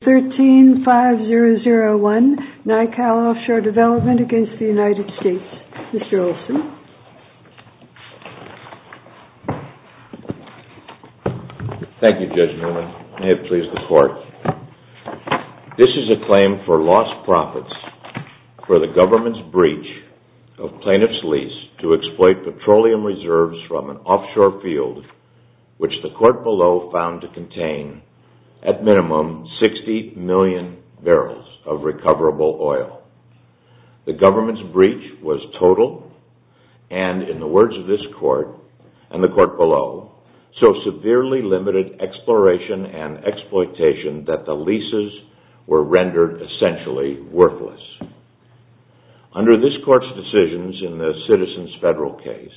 This is a claim for lost profits for the government's breach of plaintiff's lease to exploit petroleum reserves from an offshore field, which the court below found to contain at minimum 60 million barrels of recoverable oil. The government's breach was total, and in the words of this court and the court below, so severely limited exploration and exploitation that the leases were rendered essentially worthless. Under this court's decisions in the Citizens Federal case,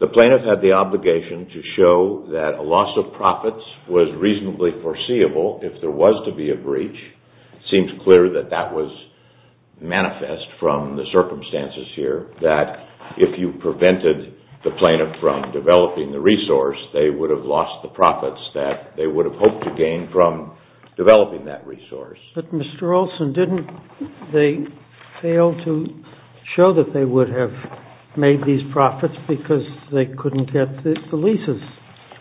the plaintiff had the obligation to show that a loss of profits was reasonably foreseeable if there was to be a breach. It seems clear that that was manifest from the circumstances here, that if you prevented the plaintiff from developing the resource, they would have lost the profits that they would have hoped to gain from developing that resource. But Mr. Olson, didn't they fail to show that they would have made these profits because they couldn't get the leases?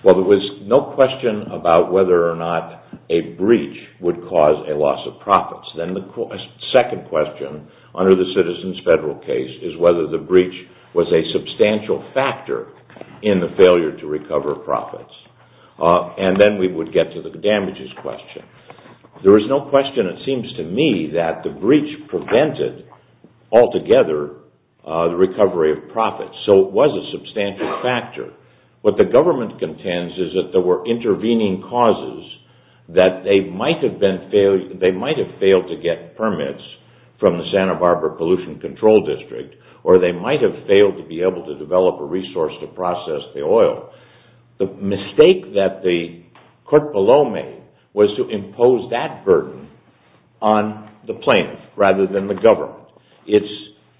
Well, there was no question about whether or not a breach would cause a loss of profits. Then the second question under the Citizens Federal case is whether the breach was a substantial factor in the failure to recover profits. Then we would get to the damages question. There is no question, it seems to me, that the breach prevented altogether the recovery of profits, so it was a substantial factor. What the government contends is that there were intervening causes that they might have failed to get permits from the Santa Barbara Pollution Control District, or they might have failed to be able to develop a resource to process the oil. The mistake that the court below made was to impose that burden on the plaintiff rather than the government. It's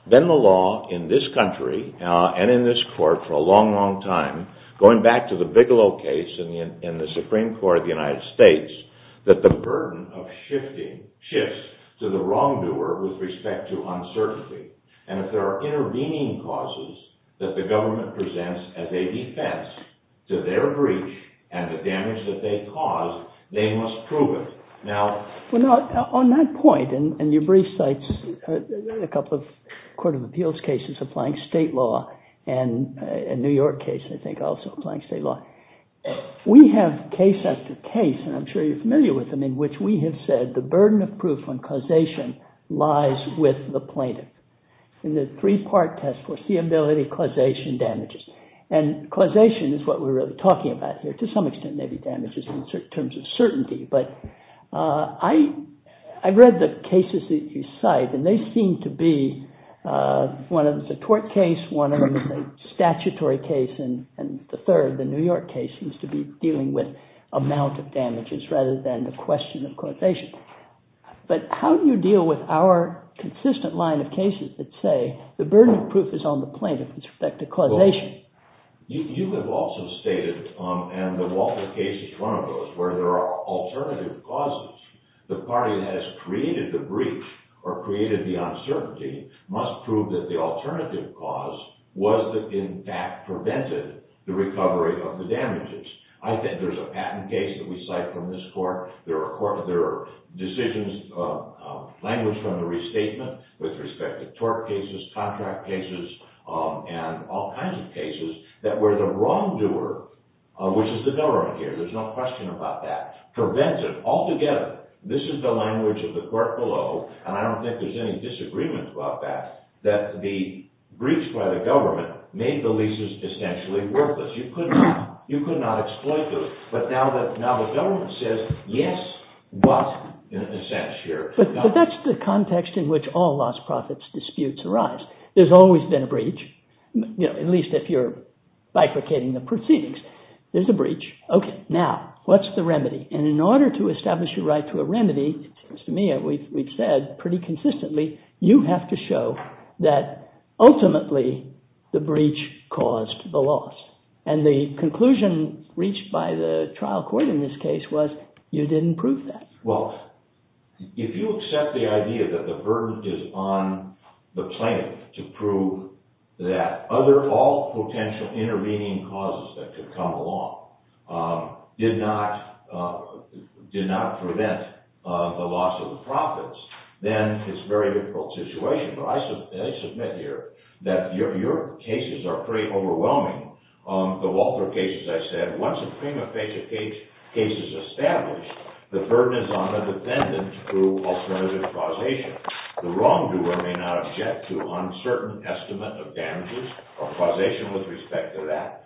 been the law in this country and in this court for a long, long time, going back to the Bigelow case in the Supreme Court of the United States, that the burden shifts to the wrongdoer with respect to uncertainty. And if there are intervening causes that the government presents as a defense to their breach and the damage that they caused, they must prove it. On that point, and your brief cites a couple of Court of Appeals cases applying state law and a New York case, I think, also applying state law. We have case after case, and I'm sure you're familiar with them, in which we have said the burden of proof on causation lies with the plaintiff. In the three-part test, foreseeability, causation, damages. And causation is what we're really talking about here. To some extent, maybe damages in terms of certainty. But I read the cases that you cite, and they seem to be, one of them is a tort case, one of them is a statutory case, and the third, the New York case, seems to be dealing with amount of damages rather than the question of causation. But how do you deal with our consistent line of cases that say the burden of proof is on the plaintiff with respect to causation? You have also stated, and the Walter case is one of those, where there are alternative causes. The party that has created the breach or created the uncertainty must prove that the alternative cause was that, in fact, prevented the recovery of the damages. I think there's a patent case that we cite from this court. There are decisions, language from the restatement with respect to tort cases, contract cases, and all kinds of cases that were the wrongdoer, which is the government here. There's no question about that. Preventive. Altogether, this is the language of the court below, and I don't think there's any disagreement about that, that the breach by the government made the leases essentially worthless. You could not exploit those. But now the government says, yes, what, in a sense, here. But that's the context in which all lost profits disputes arise. There's always been a breach, at least if you're bifurcating the proceedings. There's a breach. OK, now, what's the remedy? And in order to establish a right to a remedy, it seems to me we've said pretty consistently, you have to show that ultimately the breach caused the loss. And the conclusion reached by the trial court in this case was you didn't prove that. Well, if you accept the idea that the burden is on the plaintiff to prove that all potential intervening causes that could come along did not prevent the loss of the profits, then it's a very difficult situation. But I submit here that your cases are pretty overwhelming. The Walter case, as I said, once a prima facie case is established, the burden is on the defendant to prove alternative causation. The wrongdoer may not object to uncertain estimate of damages or causation with respect to that.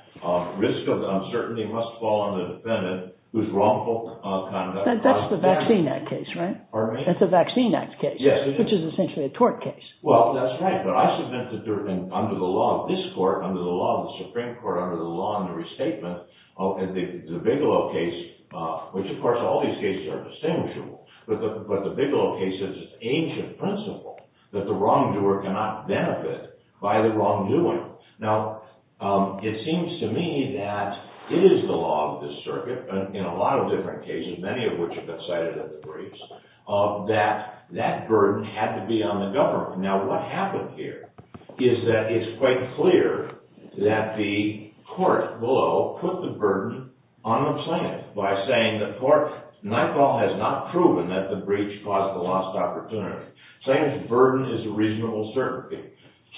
Risk of uncertainty must fall on the defendant whose wrongful conduct causes damage. That's the Vaccine Act case, right? Pardon me? That's the Vaccine Act case. Yes, it is. Which is essentially a tort case. Well, that's right. But I submit that under the law of this court, under the law of the Supreme Court, under the law of the restatement, the Bigelow case, which of course all these cases are distinguishable, but the Bigelow case is an ancient principle that the wrongdoer cannot benefit by the wrongdoing. Now, it seems to me that it is the law of this circuit, in a lot of different cases, many of which have been cited in the briefs, that that burden had to be on the government. Now, what happened here is that it's quite clear that the court below put the burden on the plaintiff by saying that the court has not proven that the breach caused the lost opportunity. Saying that the burden is a reasonable certainty.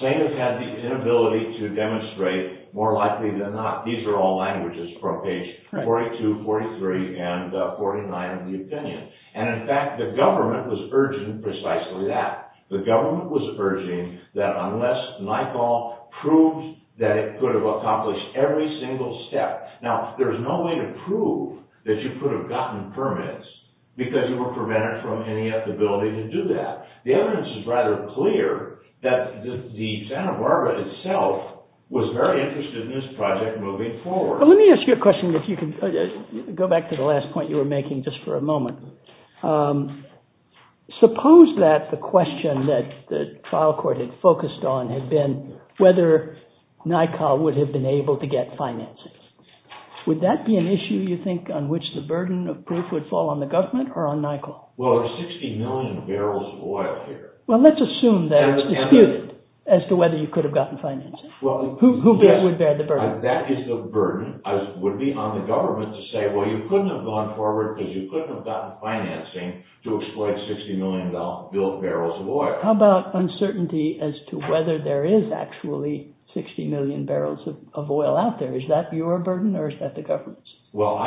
Saying it had the inability to demonstrate more likely than not. These are all languages from page 42, 43, and 49 of the opinion. And in fact, the government was urging precisely that. The government was urging that unless NYCAL proved that it could have accomplished every single step. Now, there's no way to prove that you could have gotten permits because you were prevented from any ability to do that. The evidence is rather clear that the Santa Barbara itself was very interested in this project moving forward. Let me ask you a question, if you could go back to the last point you were making just for a moment. Suppose that the question that the trial court had focused on had been whether NYCAL would have been able to get financing. Would that be an issue, you think, on which the burden of proof would fall on the government or on NYCAL? Well, there's 60 million barrels of oil here. Well, let's assume that it's disputed as to whether you could have gotten financing. Who would bear the burden? That is the burden would be on the government to say, well, you couldn't have gone forward because you couldn't have gotten financing to exploit 60 million built barrels of oil. How about uncertainty as to whether there is actually 60 million barrels of oil out there? Is that your burden or is that the government's? Well,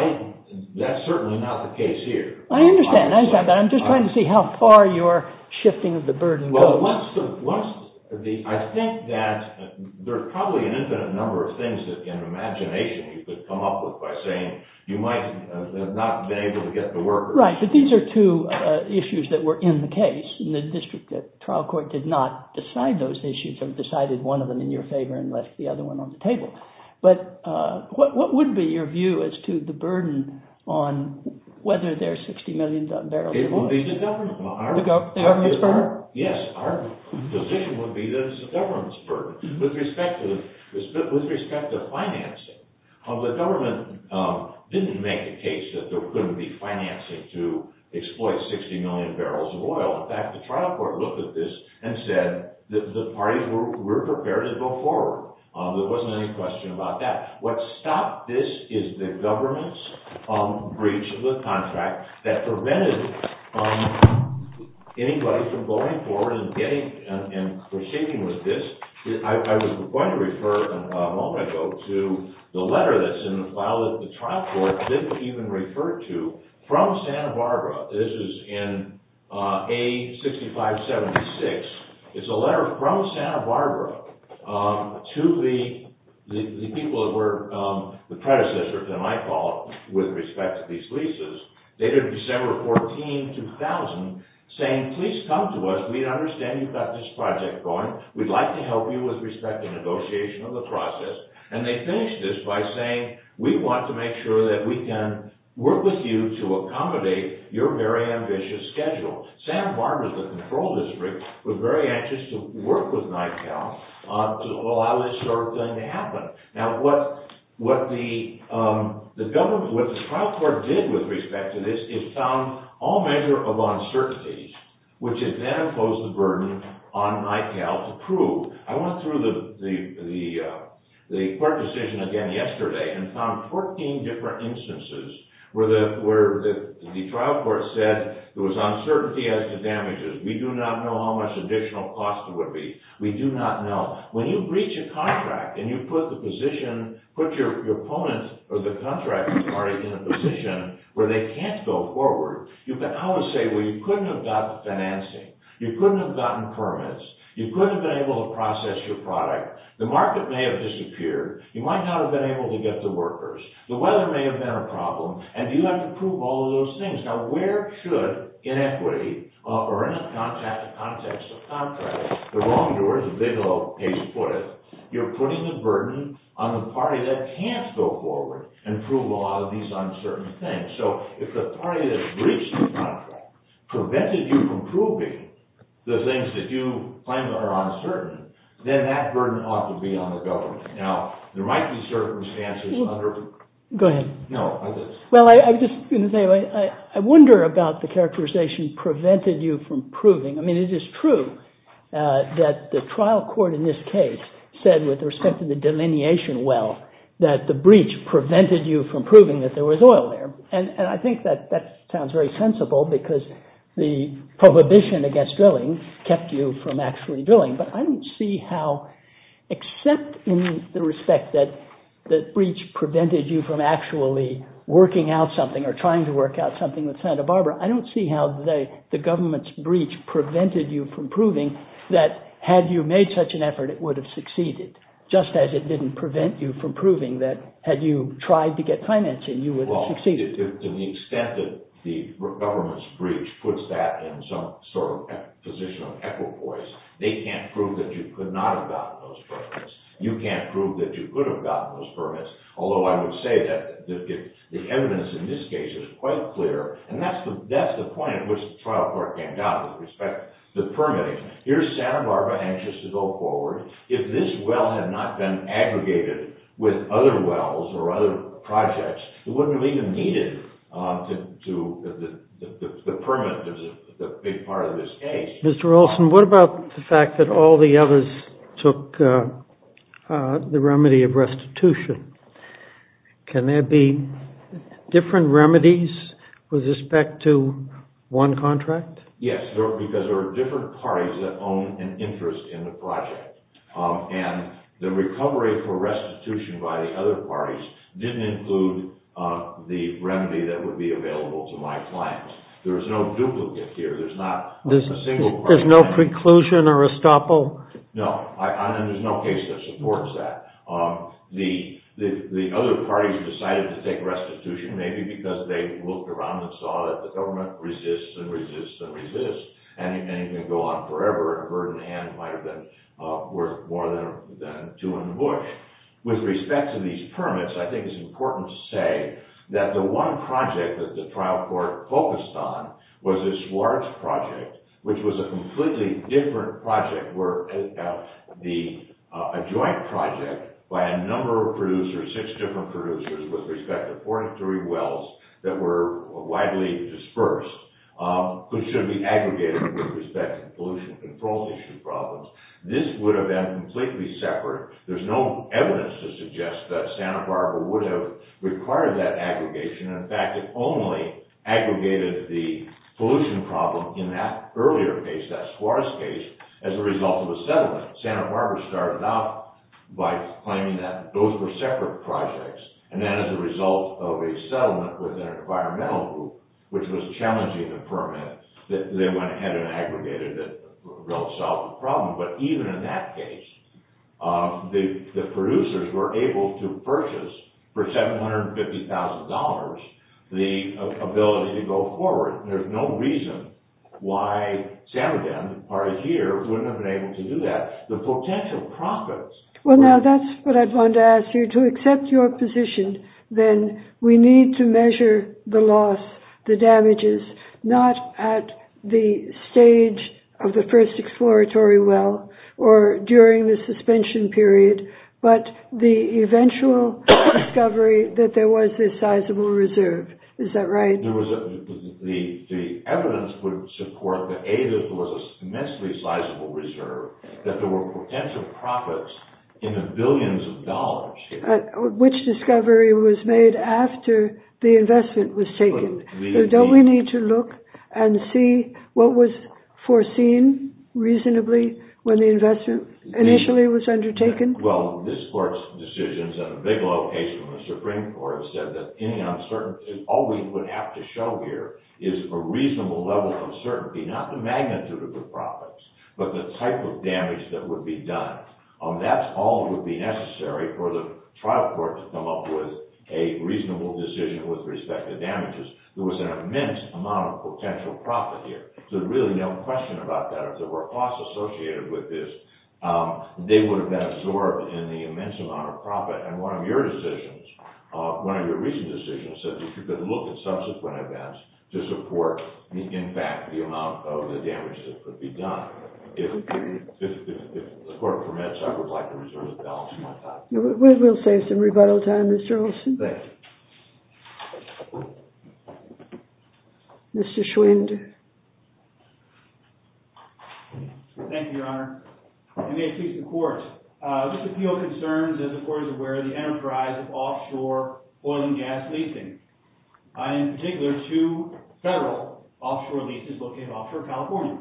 that's certainly not the case here. I understand. I'm just trying to see how far you're shifting the burden. Well, I think that there are probably an infinite number of things that in imagination you could come up with by saying you might not have been able to get the workers. Right, but these are two issues that were in the case. The district trial court did not decide those issues. It decided one of them in your favor and left the other one on the table. But what would be your view as to the burden on whether there's 60 million barrels of oil? The government's burden? Yes, our position would be that it's the government's burden with respect to financing. The government didn't make a case that there couldn't be financing to exploit 60 million barrels of oil. In fact, the trial court looked at this and said the parties were prepared to go forward. There wasn't any question about that. What stopped this is the government's breach of the contract that prevented anybody from going forward and proceeding with this. I was going to refer a moment ago to the letter that's in the file that the trial court didn't even refer to from Santa Barbara. This is in A6576. It's a letter from Santa Barbara to the people that were the predecessors in my call with respect to these leases. They did December 14, 2000, saying please come to us. We understand you've got this project going. We'd like to help you with respect and negotiation of the process. And they finished this by saying we want to make sure that we can work with you to accommodate your very ambitious schedule. Santa Barbara, the control district, was very anxious to work with NICAL to allow this sort of thing to happen. Now, what the government, what the trial court did with respect to this is found all measure of uncertainty, which it then imposed the burden on NICAL to prove. I went through the court decision again yesterday and found 14 different instances where the trial court said there was uncertainty as to damages. We do not know how much additional cost there would be. We do not know. When you breach a contract and you put the position, put your opponent or the contracting party in a position where they can't go forward, you can always say, well, you couldn't have gotten financing. You couldn't have gotten permits. You couldn't have been able to process your product. The market may have disappeared. You might not have been able to get the workers. The weather may have been a problem. And you have to prove all of those things. Now, where should inequity, or in the context of contracts, the wrongdoers, as Bigelow case put it, you're putting the burden on the party that can't go forward and prove a lot of these uncertain things. So if the party that breached the contract prevented you from proving the things that you find that are uncertain, then that burden ought to be on the government. Now, there might be circumstances under— Go ahead. No, I didn't. Well, I was just going to say, I wonder about the characterization prevented you from proving. I mean, it is true that the trial court in this case said with respect to the delineation well that the breach prevented you from proving that there was oil there. And I think that that sounds very sensible because the prohibition against drilling kept you from actually drilling. But I don't see how, except in the respect that the breach prevented you from actually working out something or trying to work out something with Santa Barbara, I don't see how the government's breach prevented you from proving that had you made such an effort, it would have succeeded, just as it didn't prevent you from proving that had you tried to get financing, you would have succeeded. To the extent that the government's breach puts that in some sort of position of equipoise, they can't prove that you could not have gotten those permits. You can't prove that you could have gotten those permits, although I would say that the evidence in this case is quite clear. And that's the point at which the trial court came down with respect to permitting. Here's Santa Barbara anxious to go forward. If this well had not been aggregated with other wells or other projects, it wouldn't have even needed the permit as a big part of this case. Mr. Olson, what about the fact that all the others took the remedy of restitution? Can there be different remedies with respect to one contract? Yes, because there are different parties that own an interest in the project. And the recovery for restitution by the other parties didn't include the remedy that would be available to my clients. There's no duplicate here. There's no preclusion or estoppel? No, and there's no case that supports that. The other parties decided to take restitution, maybe because they looked around and saw that the government resists and resists and resists. And it can go on forever. A burden hand might have been worth more than 200 bush. With respect to these permits, I think it's important to say that the one project that the trial court focused on was this large project, which was a completely different project, a joint project by a number of producers, six different producers with respect to 43 wells that were widely dispersed, which should be aggregated with respect to pollution control issue problems. This would have been completely separate. There's no evidence to suggest that Santa Barbara would have required that aggregation. In fact, it only aggregated the pollution problem in that earlier case, that Suarez case, as a result of a settlement. Santa Barbara started out by claiming that those were separate projects, and then as a result of a settlement with an environmental group, which was challenging the permit, they went ahead and aggregated it and solved the problem. But even in that case, the producers were able to purchase, for $750,000, the ability to go forward. And there's no reason why Santa Den, the party here, wouldn't have been able to do that. The potential profits— Well, now, that's what I wanted to ask you. then we need to measure the loss, the damages, not at the stage of the first exploratory well or during the suspension period, but the eventual discovery that there was a sizable reserve. Is that right? The evidence would support that A, there was a immensely sizable reserve, that there were potential profits in the billions of dollars here. Which discovery was made after the investment was taken? So don't we need to look and see what was foreseen reasonably when the investment initially was undertaken? Well, this court's decisions at a big location in the Supreme Court said that any uncertainty—all we would have to show here is a reasonable level of uncertainty, not the magnitude of the profits, but the type of damage that would be done. That's all that would be necessary for the trial court to come up with a reasonable decision with respect to damages. There was an immense amount of potential profit here, so there's really no question about that. If there were costs associated with this, they would have been absorbed in the immense amount of profit. And one of your recent decisions said that you could look at subsequent events to support, in fact, the amount of the damage that could be done. If the court permits, I would like to reserve the balance of my time. We'll save some rebuttal time, Mr. Olson. Thank you. Mr. Schwind. Thank you, Your Honor. And may it please the Court. This appeal concerns, as the Court is aware, the enterprise of offshore oil and gas leasing. In particular, two federal offshore leases located offshore California.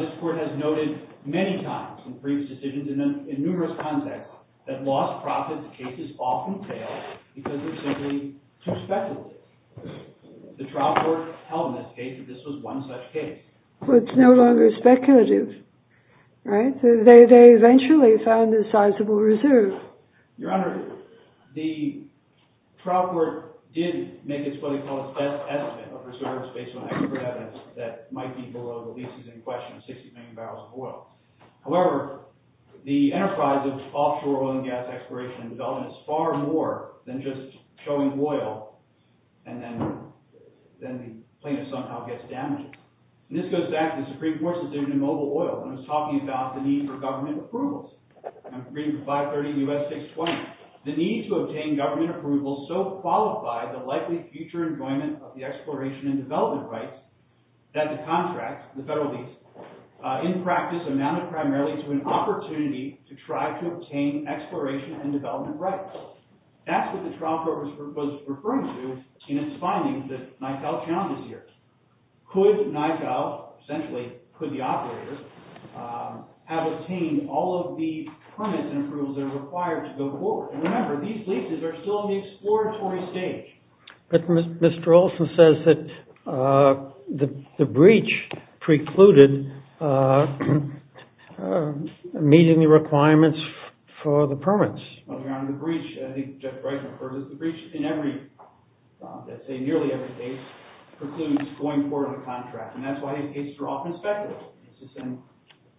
This Court has noted many times in previous decisions and in numerous contexts that lost profit cases often fail because they're simply too speculative. The trial court held in this case that this was one such case. Well, it's no longer speculative. Right? They eventually found a sizable reserve. Your Honor, the trial court did make its what they call its best estimate of reserves based on expert evidence that might be below the leases in question, 60 million barrels of oil. However, the enterprise of offshore oil and gas exploration and development is far more than just showing oil and then the plaintiff somehow gets damages. And this goes back to the Supreme Court's decision in Mobile Oil when it was talking about the need for government approvals. I'm reading from 530 U.S. 620. The need to obtain government approvals so qualified the likely future enjoyment of the exploration and development rights that the contract, the federal lease, in practice amounted primarily to an opportunity to try to obtain exploration and development rights. That's what the trial court was referring to in its findings that might help challenges here. Could NICAO, essentially could the operators, have obtained all of the permits and approvals that are required to go forward? And remember, these leases are still in the exploratory stage. But Mr. Olson says that the breach precluded meeting the requirements for the permits. The breach in nearly every case precludes going forward with the contract. And that's why cases are often speculative.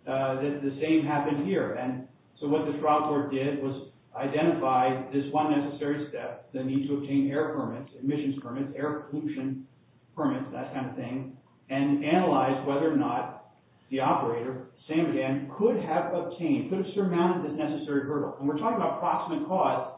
The same happened here. And so what the trial court did was identify this one necessary step, the need to obtain air permits, emissions permits, air pollution permits, that kind of thing, and analyze whether or not the operator, same again, could have obtained, could have surmounted this necessary hurdle. When we're talking about proximate cause,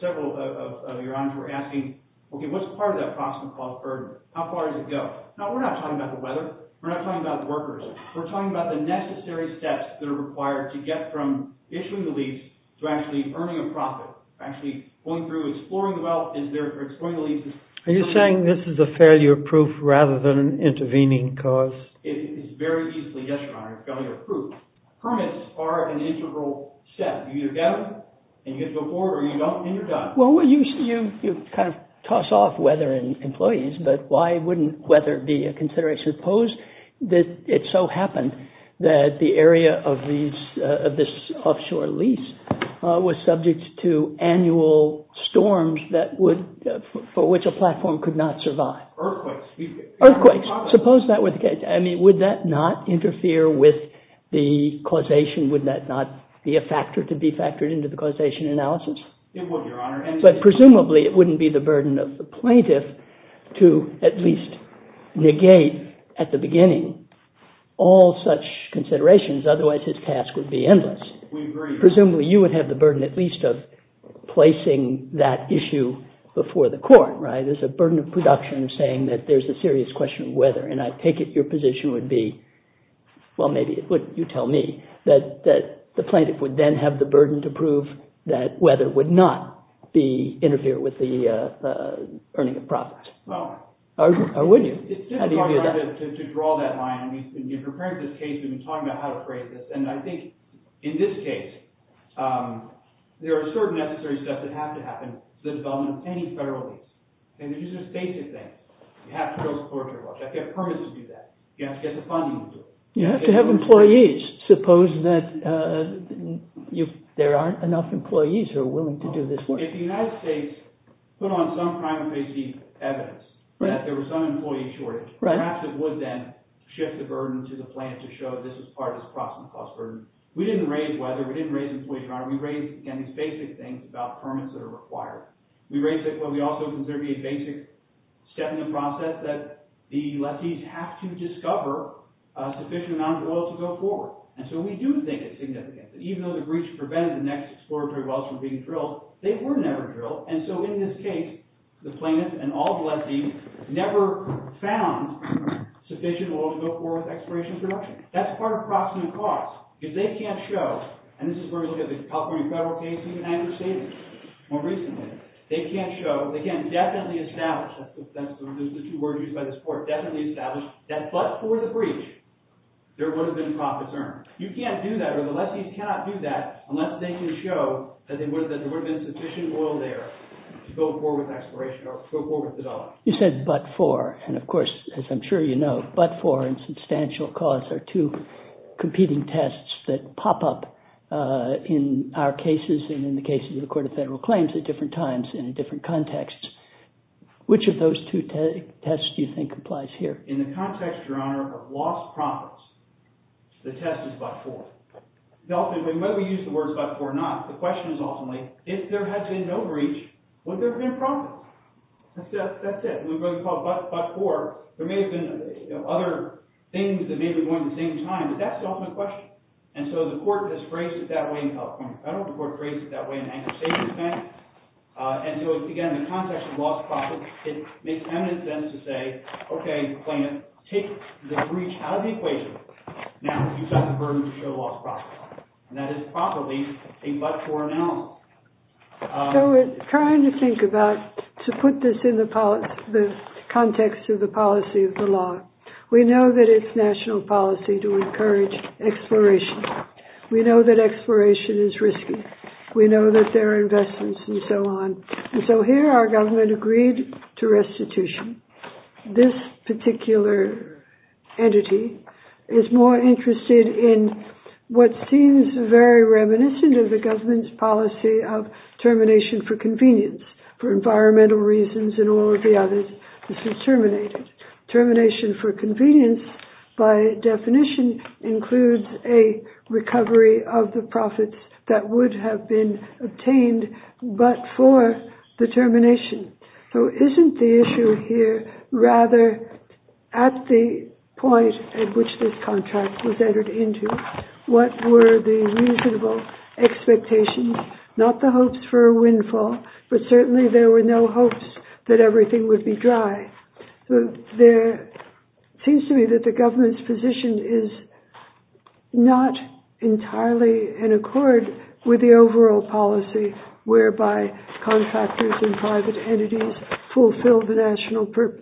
several of your honorees were asking, OK, what's part of that proximate cause burden? How far does it go? No, we're not talking about the weather. We're not talking about the workers. We're talking about the necessary steps that are required to get from issuing the lease to actually earning a profit, actually going through exploring the wealth, exploring the leases. Are you saying this is a failure proof rather than an intervening cause? It is very easily, yes, Your Honor, a failure proof. Permits are an integral step. You either get them, and you get to go forward, or you don't, and you're done. Well, you kind of toss off weather and employees, but why wouldn't weather be a consideration? Suppose that it so happened that the area of this offshore lease was subject to annual storms for which a platform could not survive. Earthquakes. Earthquakes. I mean, would that not interfere with the causation? Would that not be a factor to be factored into the causation analysis? It would, Your Honor. But presumably, it wouldn't be the burden of the plaintiff to at least negate at the beginning all such considerations. Otherwise, his task would be endless. We agree. Presumably, you would have the burden at least of placing that issue before the court, right? There's a burden of production of saying that there's a serious question of weather. And I take it your position would be, well, maybe it wouldn't. You tell me. That the plaintiff would then have the burden to prove that weather would not interfere with the earning of profits. Or would you? How do you view that? It's difficult to draw that line. In preparing for this case, we've been talking about how to phrase this. And I think in this case, there are certain necessary steps that have to happen for the development of any federal lease. And these are just basic things. You have to go to the court of law. You have to have permits to do that. You have to get the funding to do it. You have to have employees. Suppose that there aren't enough employees who are willing to do this work. If the United States put on some kind of evidence that there was some employee shortage, perhaps it would then shift the burden to the plaintiff to show this is part of this cost burden. We didn't raise weather. We didn't raise employees, Your Honor. We raised, again, these basic things about permits that are required. We raised what we also consider to be a basic step in the process, that the lettees have to discover a sufficient amount of oil to go forward. And so we do think it's significant that even though the breach prevented the next exploratory wells from being drilled, they were never drilled. And so in this case, the plaintiff and all the lettees never found sufficient oil to go forward with exploration and production. That's part of proximate costs. Because they can't show, and this is where we look at the California federal case and the United States more recently. They can't show, they can't definitely establish, that's the two words used by this court, definitely establish that but for the breach, there would have been profits earned. You can't do that, or the lettees cannot do that, unless they can show that there would have been sufficient oil there to go forward with exploration or go forward with development. You said but for. And of course, as I'm sure you know, but for and substantial cause are two competing tests that pop up in our cases and in the cases of the Court of Federal Claims at different times and in different contexts. Which of those two tests do you think applies here? In the context, Your Honor, of lost profits, the test is but for. Whether we use the words but for or not, the question is ultimately, if there had been no breach, would there have been a profit? That's it. We call it but for. There may have been other things that may have been going at the same time, but that's the ultimate question. And so the court has phrased it that way in California. The federal court phrased it that way in the United States. And so, again, in the context of lost profits, it makes eminent sense to say, okay, plaintiff, take the breach out of the equation. Now you've got the burden to show lost profits. And that is probably a but for analysis. So we're trying to think about, to put this in the context of the policy of the law, we know that it's national policy to encourage exploration. We know that exploration is risky. We know that there are investments and so on. And so here our government agreed to restitution. This particular entity is more interested in what seems very reminiscent of the government's policy of termination for convenience. For environmental reasons and all of the others, this is terminated. Termination for convenience, by definition, includes a recovery of the profits that would have been obtained but for the termination. So isn't the issue here rather at the point at which this contract was entered into, what were the reasonable expectations? Not the hopes for a windfall, but certainly there were no hopes that everything would be dry. It seems to me that the government's position is not entirely in accord with the overall policy whereby contractors and private entities fulfill the national purpose.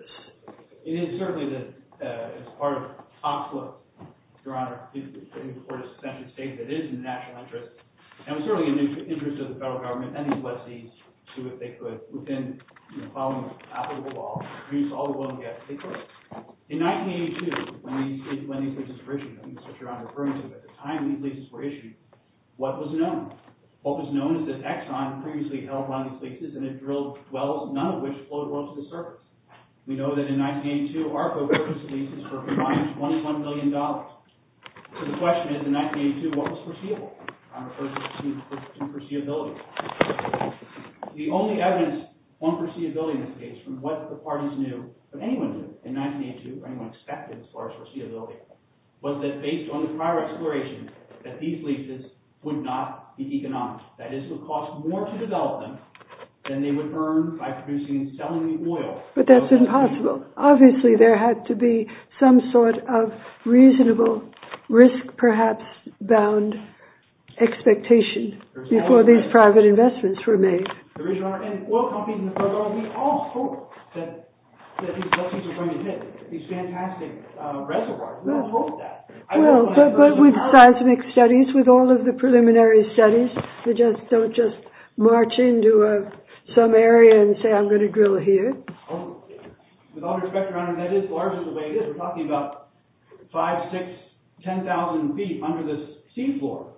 It is certainly that as part of the top flip, Your Honor, the court has essentially stated that it is in the national interest. And it was certainly in the interest of the federal government and these lessees to, if they could, within following the applicable law, reduce all the willingness they could. In 1982, when these leases were issued, at the time these leases were issued, what was known? What was known is that Exxon previously held on these leases and had drilled wells, none of which flowed well to the surface. We know that in 1982, ARPA approved these leases for a combined $21 million. So the question is, in 1982, what was foreseeable? I'm referring to foreseeability. The only evidence on foreseeability in this case from what the parties knew, or anyone knew in 1982, or anyone expected as far as foreseeability, was that based on the prior exploration that these leases would not be economic. That is, it would cost more to develop them than they would earn by producing and selling the oil. But that's impossible. Obviously, there had to be some sort of reasonable, risk-perhaps-bound expectation before these private investments were made. Your Honor, and oil companies and the federal government, we all hoped that these lessees were going to hit these fantastic reservoirs. We all hoped that. Well, but with seismic studies, with all of the preliminary studies, they don't just march into some area and say, I'm going to drill here. With all due respect, Your Honor, that is largely the way it is. We're talking about 5,000, 6,000, 10,000 feet under the sea floor.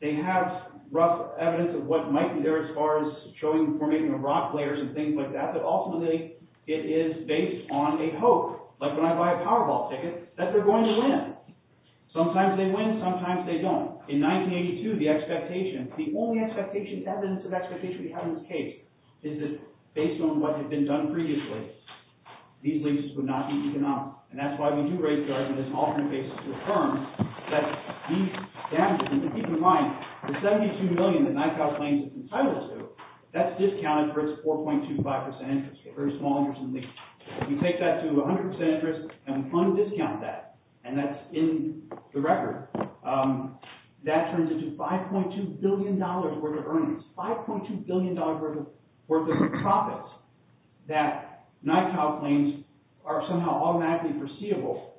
They have rough evidence of what might be there as far as showing the formation of rock layers and things like that. But ultimately, it is based on a hope, like when I buy a Powerball ticket, that they're going to win. Sometimes they win. Sometimes they don't. In 1982, the expectation, the only evidence of expectation we have in this case, is that based on what had been done previously, these leases would not be economic. And that's why we do raise the argument on an alternate basis with firms that these damages, and keep in mind, the $72 million that NICAO claims it's entitled to, that's discounted for its 4.25% interest rate, a very small interest rate. If you take that to 100% interest, and we fund and discount that, and that's in the record, that turns into $5.2 billion worth of earnings. $5.2 billion worth of profits that NICAO claims are somehow automatically foreseeable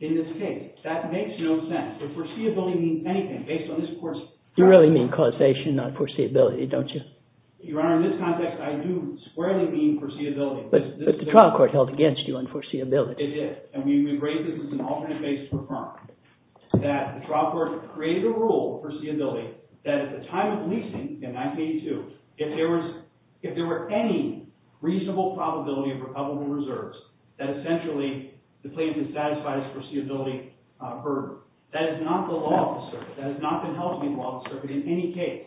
in this case. That makes no sense. But foreseeability means anything based on this court's facts. You really mean causation, not foreseeability, don't you? Your Honor, in this context, I do squarely mean foreseeability. But the trial court held against you on foreseeability. It did. And we raise this as an alternate basis for firms. That the trial court created a rule of foreseeability that at the time of leasing, in 1982, if there were any reasonable probability of recoverable reserves, that essentially the plaintiff had satisfied his foreseeability burden. That is not the law of the circuit. That has not been held to be the law of the circuit in any case.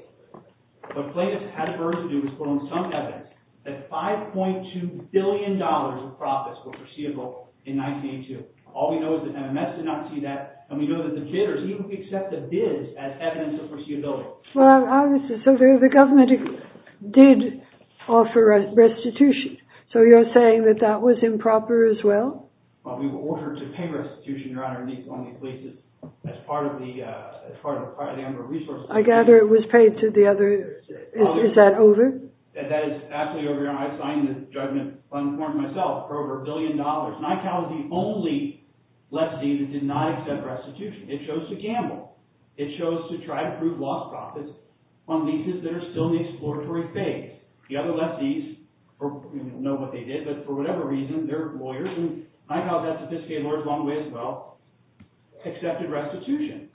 The plaintiff had a burden to do with some evidence that $5.2 billion worth of profits were foreseeable in 1982. All we know is that MMS did not see that. And we know that the bidders even accept the bids as evidence of foreseeability. Well, obviously. So the government did offer restitution. So you're saying that that was improper as well? Well, we were ordered to pay restitution, Your Honor, on these leases as part of the number of resources. I gather it was paid to the other. Is that over? That is absolutely over, Your Honor. I've signed this judgment uninformed myself for over a billion dollars. NICAO is the only lefty that did not accept restitution. It chose to gamble. It chose to try to prove lost profits on leases that are still in the exploratory phase. The other lefties know what they did. But for whatever reason, they're lawyers. And NICAO, that sophisticated law is a long way as well, accepted restitution.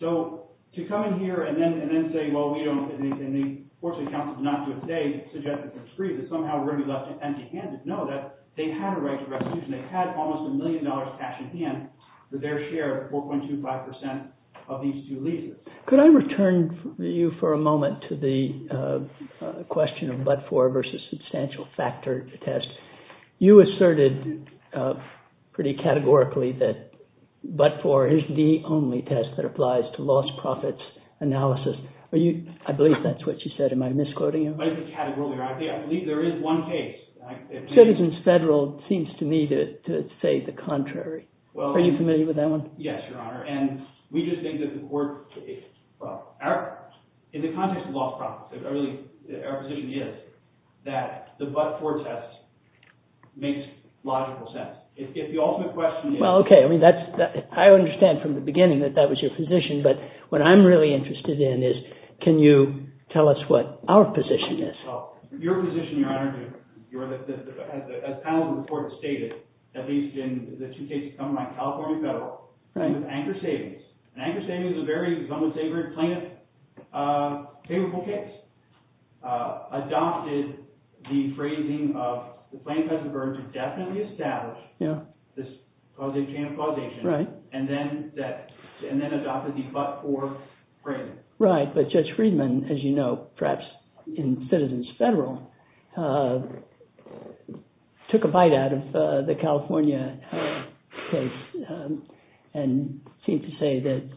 So to come in here and then say, well, we don't, and fortunately, counsel did not do it today, suggest that they're free, that somehow we're going to be left empty-handed. No, they had a right to restitution. They had almost a million dollars cash in hand for their share of 4.25% of these two leases. Could I return you for a moment to the question of but-for versus substantial factor test? You asserted pretty categorically that but-for is the only test that applies to lost profits analysis. I believe that's what you said. Am I misquoting you? I believe there is one case. Citizens Federal seems to me to say the contrary. Yes, Your Honor. In the context of lost profits, our position is that the but-for test makes logical sense. If the ultimate question is— Well, okay. I mean, I understand from the beginning that that was your position. But what I'm really interested in is can you tell us what our position is? Your position, Your Honor, as the panel's report has stated, at least in the two cases coming out of California Federal, was anchor savings. Anchor savings is a very somewhat favorable case. Adopted the phrasing of the plaintiff has the burden to definitely establish this causation and then adopted the but-for phrasing. Right. But Judge Friedman, as you know, perhaps in Citizens Federal, took a bite out of the California case and seemed to say that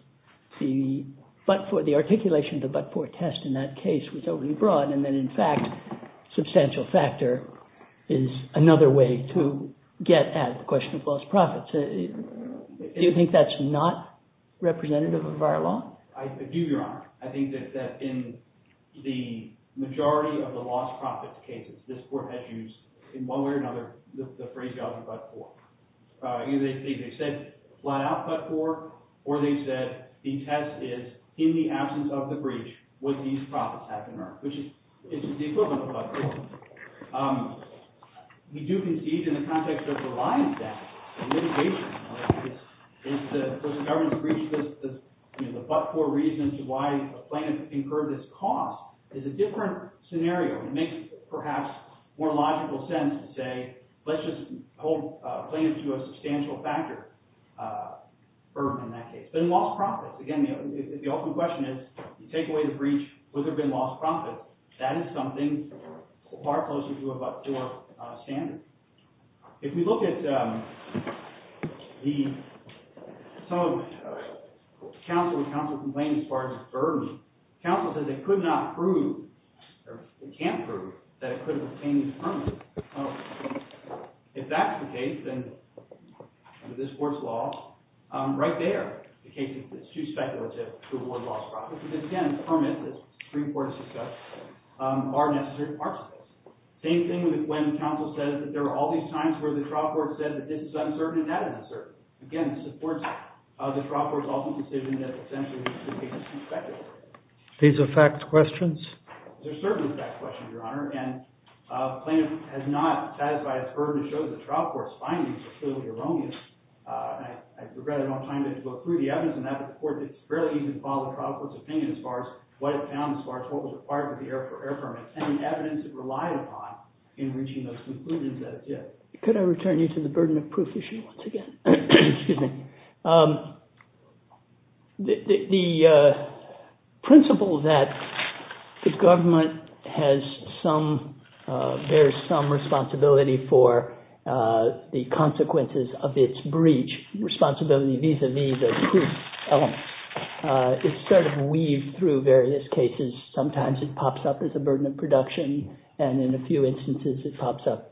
the but-for, the articulation of the but-for test in that case was overly broad and that, in fact, substantial factor is another way to get at the question of lost profits. Do you think that's not representative of our law? I do, Your Honor. I think that in the majority of the lost profits cases, this Court has used, in one way or another, the phrase of the but-for. Either they said flat-out but-for or they said the test is, in the absence of the breach, would these profits have been earned, which is the equivalent of but-for. We do concede, in the context of providing that litigation, is the government's breach the but-for reason to why a plaintiff incurred this cost is a different scenario. It makes, perhaps, more logical sense to say, let's just hold plaintiffs to a substantial factor burden in that case. But in lost profits, again, the open question is, you take away the breach, would there have been lost profits? That is something far closer to a but-for standard. If we look at some of the counsel complaints as far as the burden, counsel says it could not prove, or it can't prove, that it could have obtained the permit. If that's the case, then under this Court's law, right there, the case is too speculative to award lost profits. Because, again, permits, as the Supreme Court has discussed, are necessary parts of it. Same thing with when counsel says that there are all these times where the trial court says that this is uncertain and that is uncertain. Again, it supports the trial court's ultimate decision that essentially the case is too speculative. These are fact questions? They're certainly fact questions, Your Honor. And the plaintiff has not satisfied its burden to show that the trial court's findings are clearly erroneous. I regret I don't have time to go through the evidence on that, but the Court did fairly easily follow the trial court's opinion as far as what it found as far as what was required for the air permit. And the evidence it relied upon in reaching those conclusions, that's it. Could I return you to the burden of proof issue once again? Excuse me. The principle that the government bears some responsibility for the consequences of its breach, responsibility vis-a-vis the proof element, is sort of weaved through various cases. Sometimes it pops up as a burden of production, and in a few instances it pops up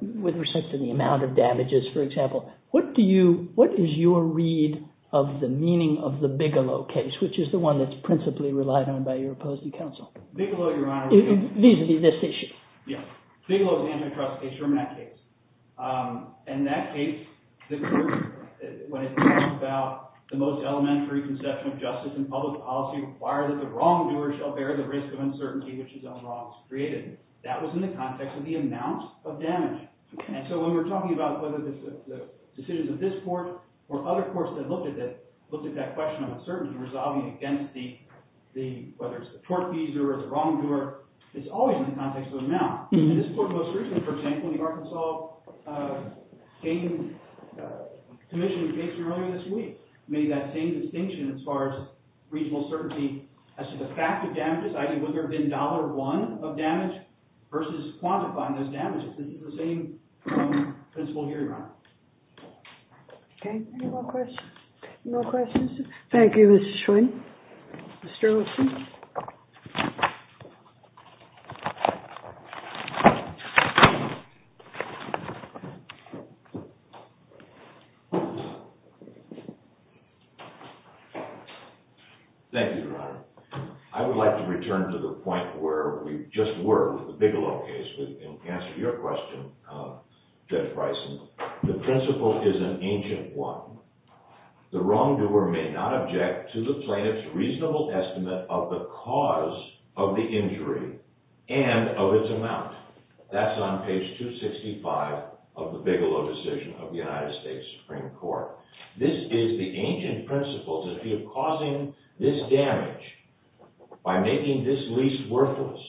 with respect to the amount of damages, for example. What is your read of the meaning of the Bigelow case, which is the one that's principally relied on by your opposing counsel? Bigelow, Your Honor. Vis-a-vis this issue. Yes. Bigelow is the antitrust case from that case. In that case, the Court, when it talks about the most elementary conception of justice in public policy, required that the wrongdoer shall bear the risk of uncertainty, which is unlawful. That was in the context of the amount of damage. And so when we're talking about whether it's the decisions of this Court or other courts that looked at that question of uncertainty, resolving against whether it's the tort fees or the wrongdoer, it's always in the context of amount. In this Court most recently, for example, the Arkansas Commission case from earlier this week, made that same distinction as far as regional certainty as to the fact of damages, i.e. whether there had been $1 of damage versus quantifying those damages. This is the same principle here, Your Honor. Okay. Any more questions? No questions? Thank you, Mr. Schwinn. Mr. Olson? Thank you, Your Honor. I would like to return to the point where we just were with the Bigelow case and answer your question, Judge Bryson. The principle is an ancient one. The wrongdoer may not object to the plaintiff's reasonable estimate of the cause of the injury and of its amount. That's on page 265 of the Bigelow decision of the United States Supreme Court. This is the ancient principle that if you're causing this damage by making this lease worthless,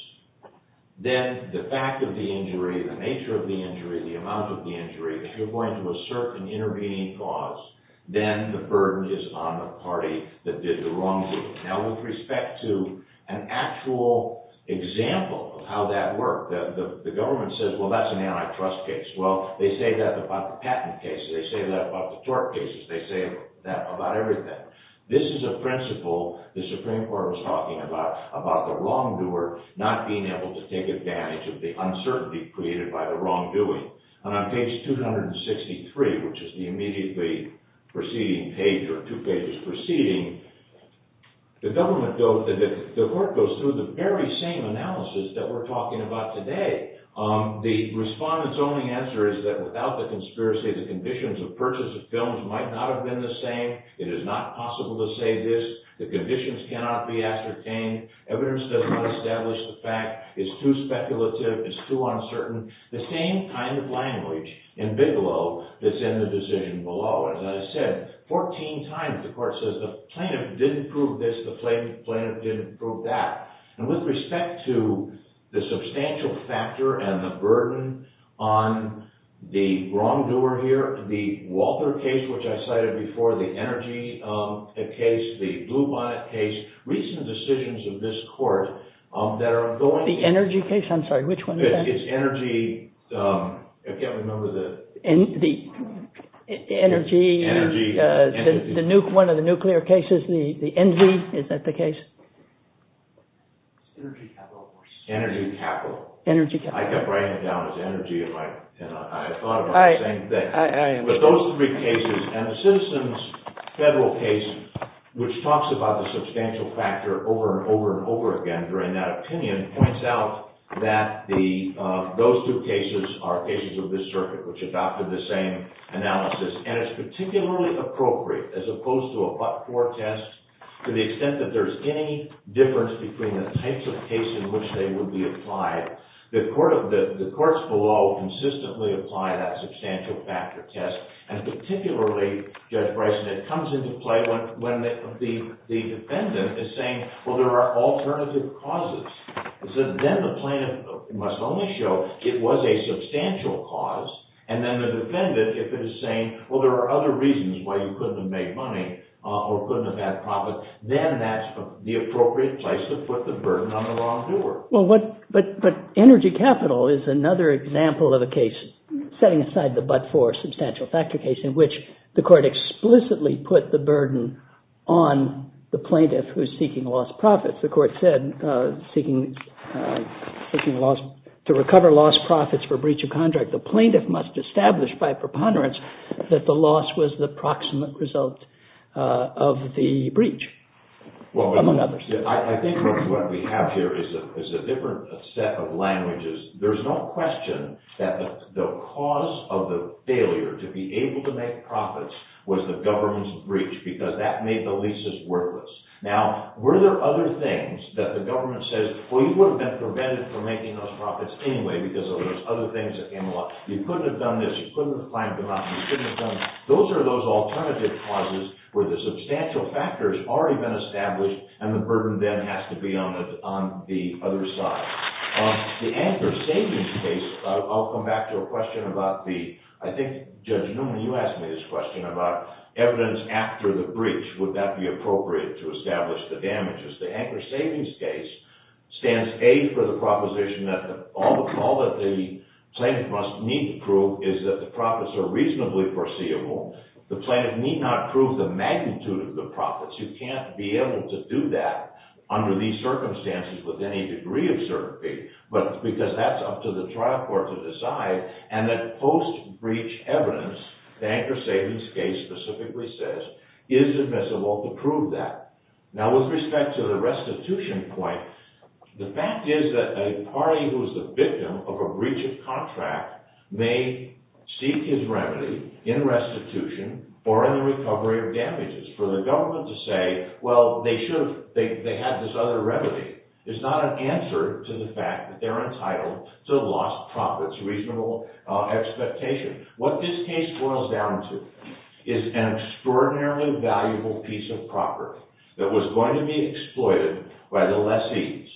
then the fact of the injury, the nature of the injury, the amount of the injury, if you're going to assert an intervening cause, then the burden is on the party that did the wrongdoing. Now, with respect to an actual example of how that worked, the government says, well, that's an antitrust case. Well, they say that about the patent cases. They say that about the tort cases. They say that about everything. This is a principle the Supreme Court was talking about, about the wrongdoer not being able to take advantage of the uncertainty created by the wrongdoing. And on page 263, which is the immediately preceding page, or two pages preceding, the court goes through the very same analysis that we're talking about today. The respondent's only answer is that without the conspiracy, the conditions of purchase of films might not have been the same. It is not possible to say this. The conditions cannot be ascertained. Evidence does not establish the fact. It's too speculative. It's too uncertain. The same kind of language in Bigelow that's in the decision below. As I said, 14 times the court says the plaintiff didn't prove this, the plaintiff didn't prove that. And with respect to the substantial factor and the burden on the wrongdoer here, the Walter case, which I cited before, the Energy case, the Bluebonnet case, recent decisions of this court that are going to— The Energy case? I'm sorry, which one is that? It's Energy. I can't remember the— Energy. Energy. Energy. One of the nuclear cases, the Envy. Is that the case? Energy Capital, of course. Energy Capital. Energy Capital. I kept writing it down as Energy, and I thought about the same thing. I understand. But those three cases, and the Citizens' Federal case, which talks about the substantial factor over and over and over again during that opinion, points out that those two cases are cases of this circuit, which adopted the same analysis. And it's particularly appropriate, as opposed to a but-for test, to the extent that there's any difference between the types of cases in which they would be applied. The courts below consistently apply that substantial factor test. And particularly, Judge Bryson, it comes into play when the defendant is saying, well, there are alternative causes. Then the plaintiff must only show it was a substantial cause. And then the defendant, if it is saying, well, there are other reasons why you couldn't have made money or couldn't have had profit, then that's the appropriate place to put the burden on the wrongdoer. But Energy Capital is another example of a case setting aside the but-for substantial factor case, in which the court explicitly put the burden on the plaintiff who's seeking lost profits. The court said, to recover lost profits for breach of contract, the plaintiff must establish by preponderance that the loss was the proximate result of the breach, among others. I think what we have here is a different set of languages. There's no question that the cause of the failure to be able to make profits was the government's breach, because that made the leases worthless. Now, were there other things that the government says, well, you would have been prevented from making those profits anyway, because of those other things that came along? You couldn't have done this. You couldn't have climbed the mountain. You couldn't have done that. Those are those alternative causes where the substantial factor has already been established, and the burden then has to be on the other side. The anchor savings case—I'll come back to a question about the—I think, Judge Newman, you asked me this question about evidence after the breach. Would that be appropriate to establish the damages? The anchor savings case stands A for the proposition that all that the plaintiff must need to prove is that the profits are reasonably foreseeable. You can't be able to do that under these circumstances with any degree of certainty, because that's up to the trial court to decide, and that post-breach evidence, the anchor savings case specifically says, is admissible to prove that. Now, with respect to the restitution point, the fact is that a party who is the victim of a breach of contract may seek his remedy in restitution or in the recovery of damages. For the government to say, well, they should have—they had this other remedy, is not an answer to the fact that they're entitled to lost profits, reasonable expectation. What this case boils down to is an extraordinarily valuable piece of property that was going to be exploited by the lessees.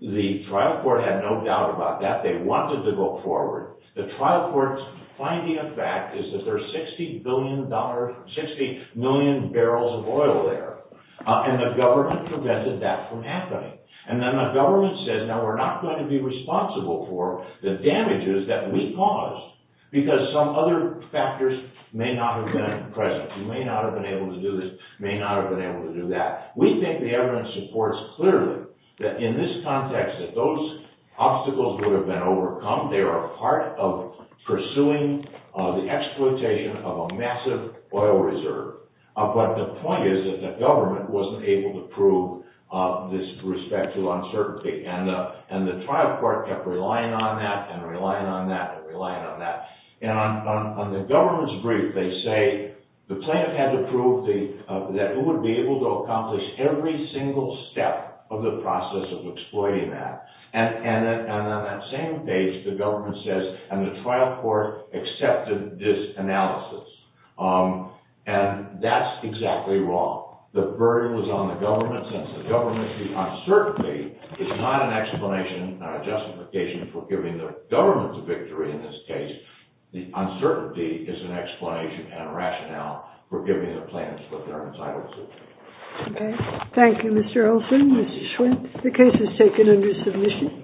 The trial court had no doubt about that. They wanted to go forward. The trial court's finding of fact is that there are 60 million barrels of oil there, and the government prevented that from happening. And then the government says, now, we're not going to be responsible for the damages that we caused because some other factors may not have been present. We may not have been able to do this. We may not have been able to do that. We think the evidence supports clearly that in this context, that those obstacles would have been overcome. They are a part of pursuing the exploitation of a massive oil reserve. But the point is that the government wasn't able to prove this respect to uncertainty, and the trial court kept relying on that and relying on that and relying on that. And on the government's brief, they say the plaintiff had to prove that it would be able to accomplish every single step of the process of exploiting that. And on that same page, the government says, and the trial court accepted this analysis. And that's exactly wrong. The burden was on the government, since the government's uncertainty is not an explanation, not a justification for giving the government the victory in this case. The uncertainty is an explanation and a rationale for giving the plaintiffs what they're entitled to. Okay. Thank you, Mr. Olson, Mr. Schwinn. The case is taken under submission.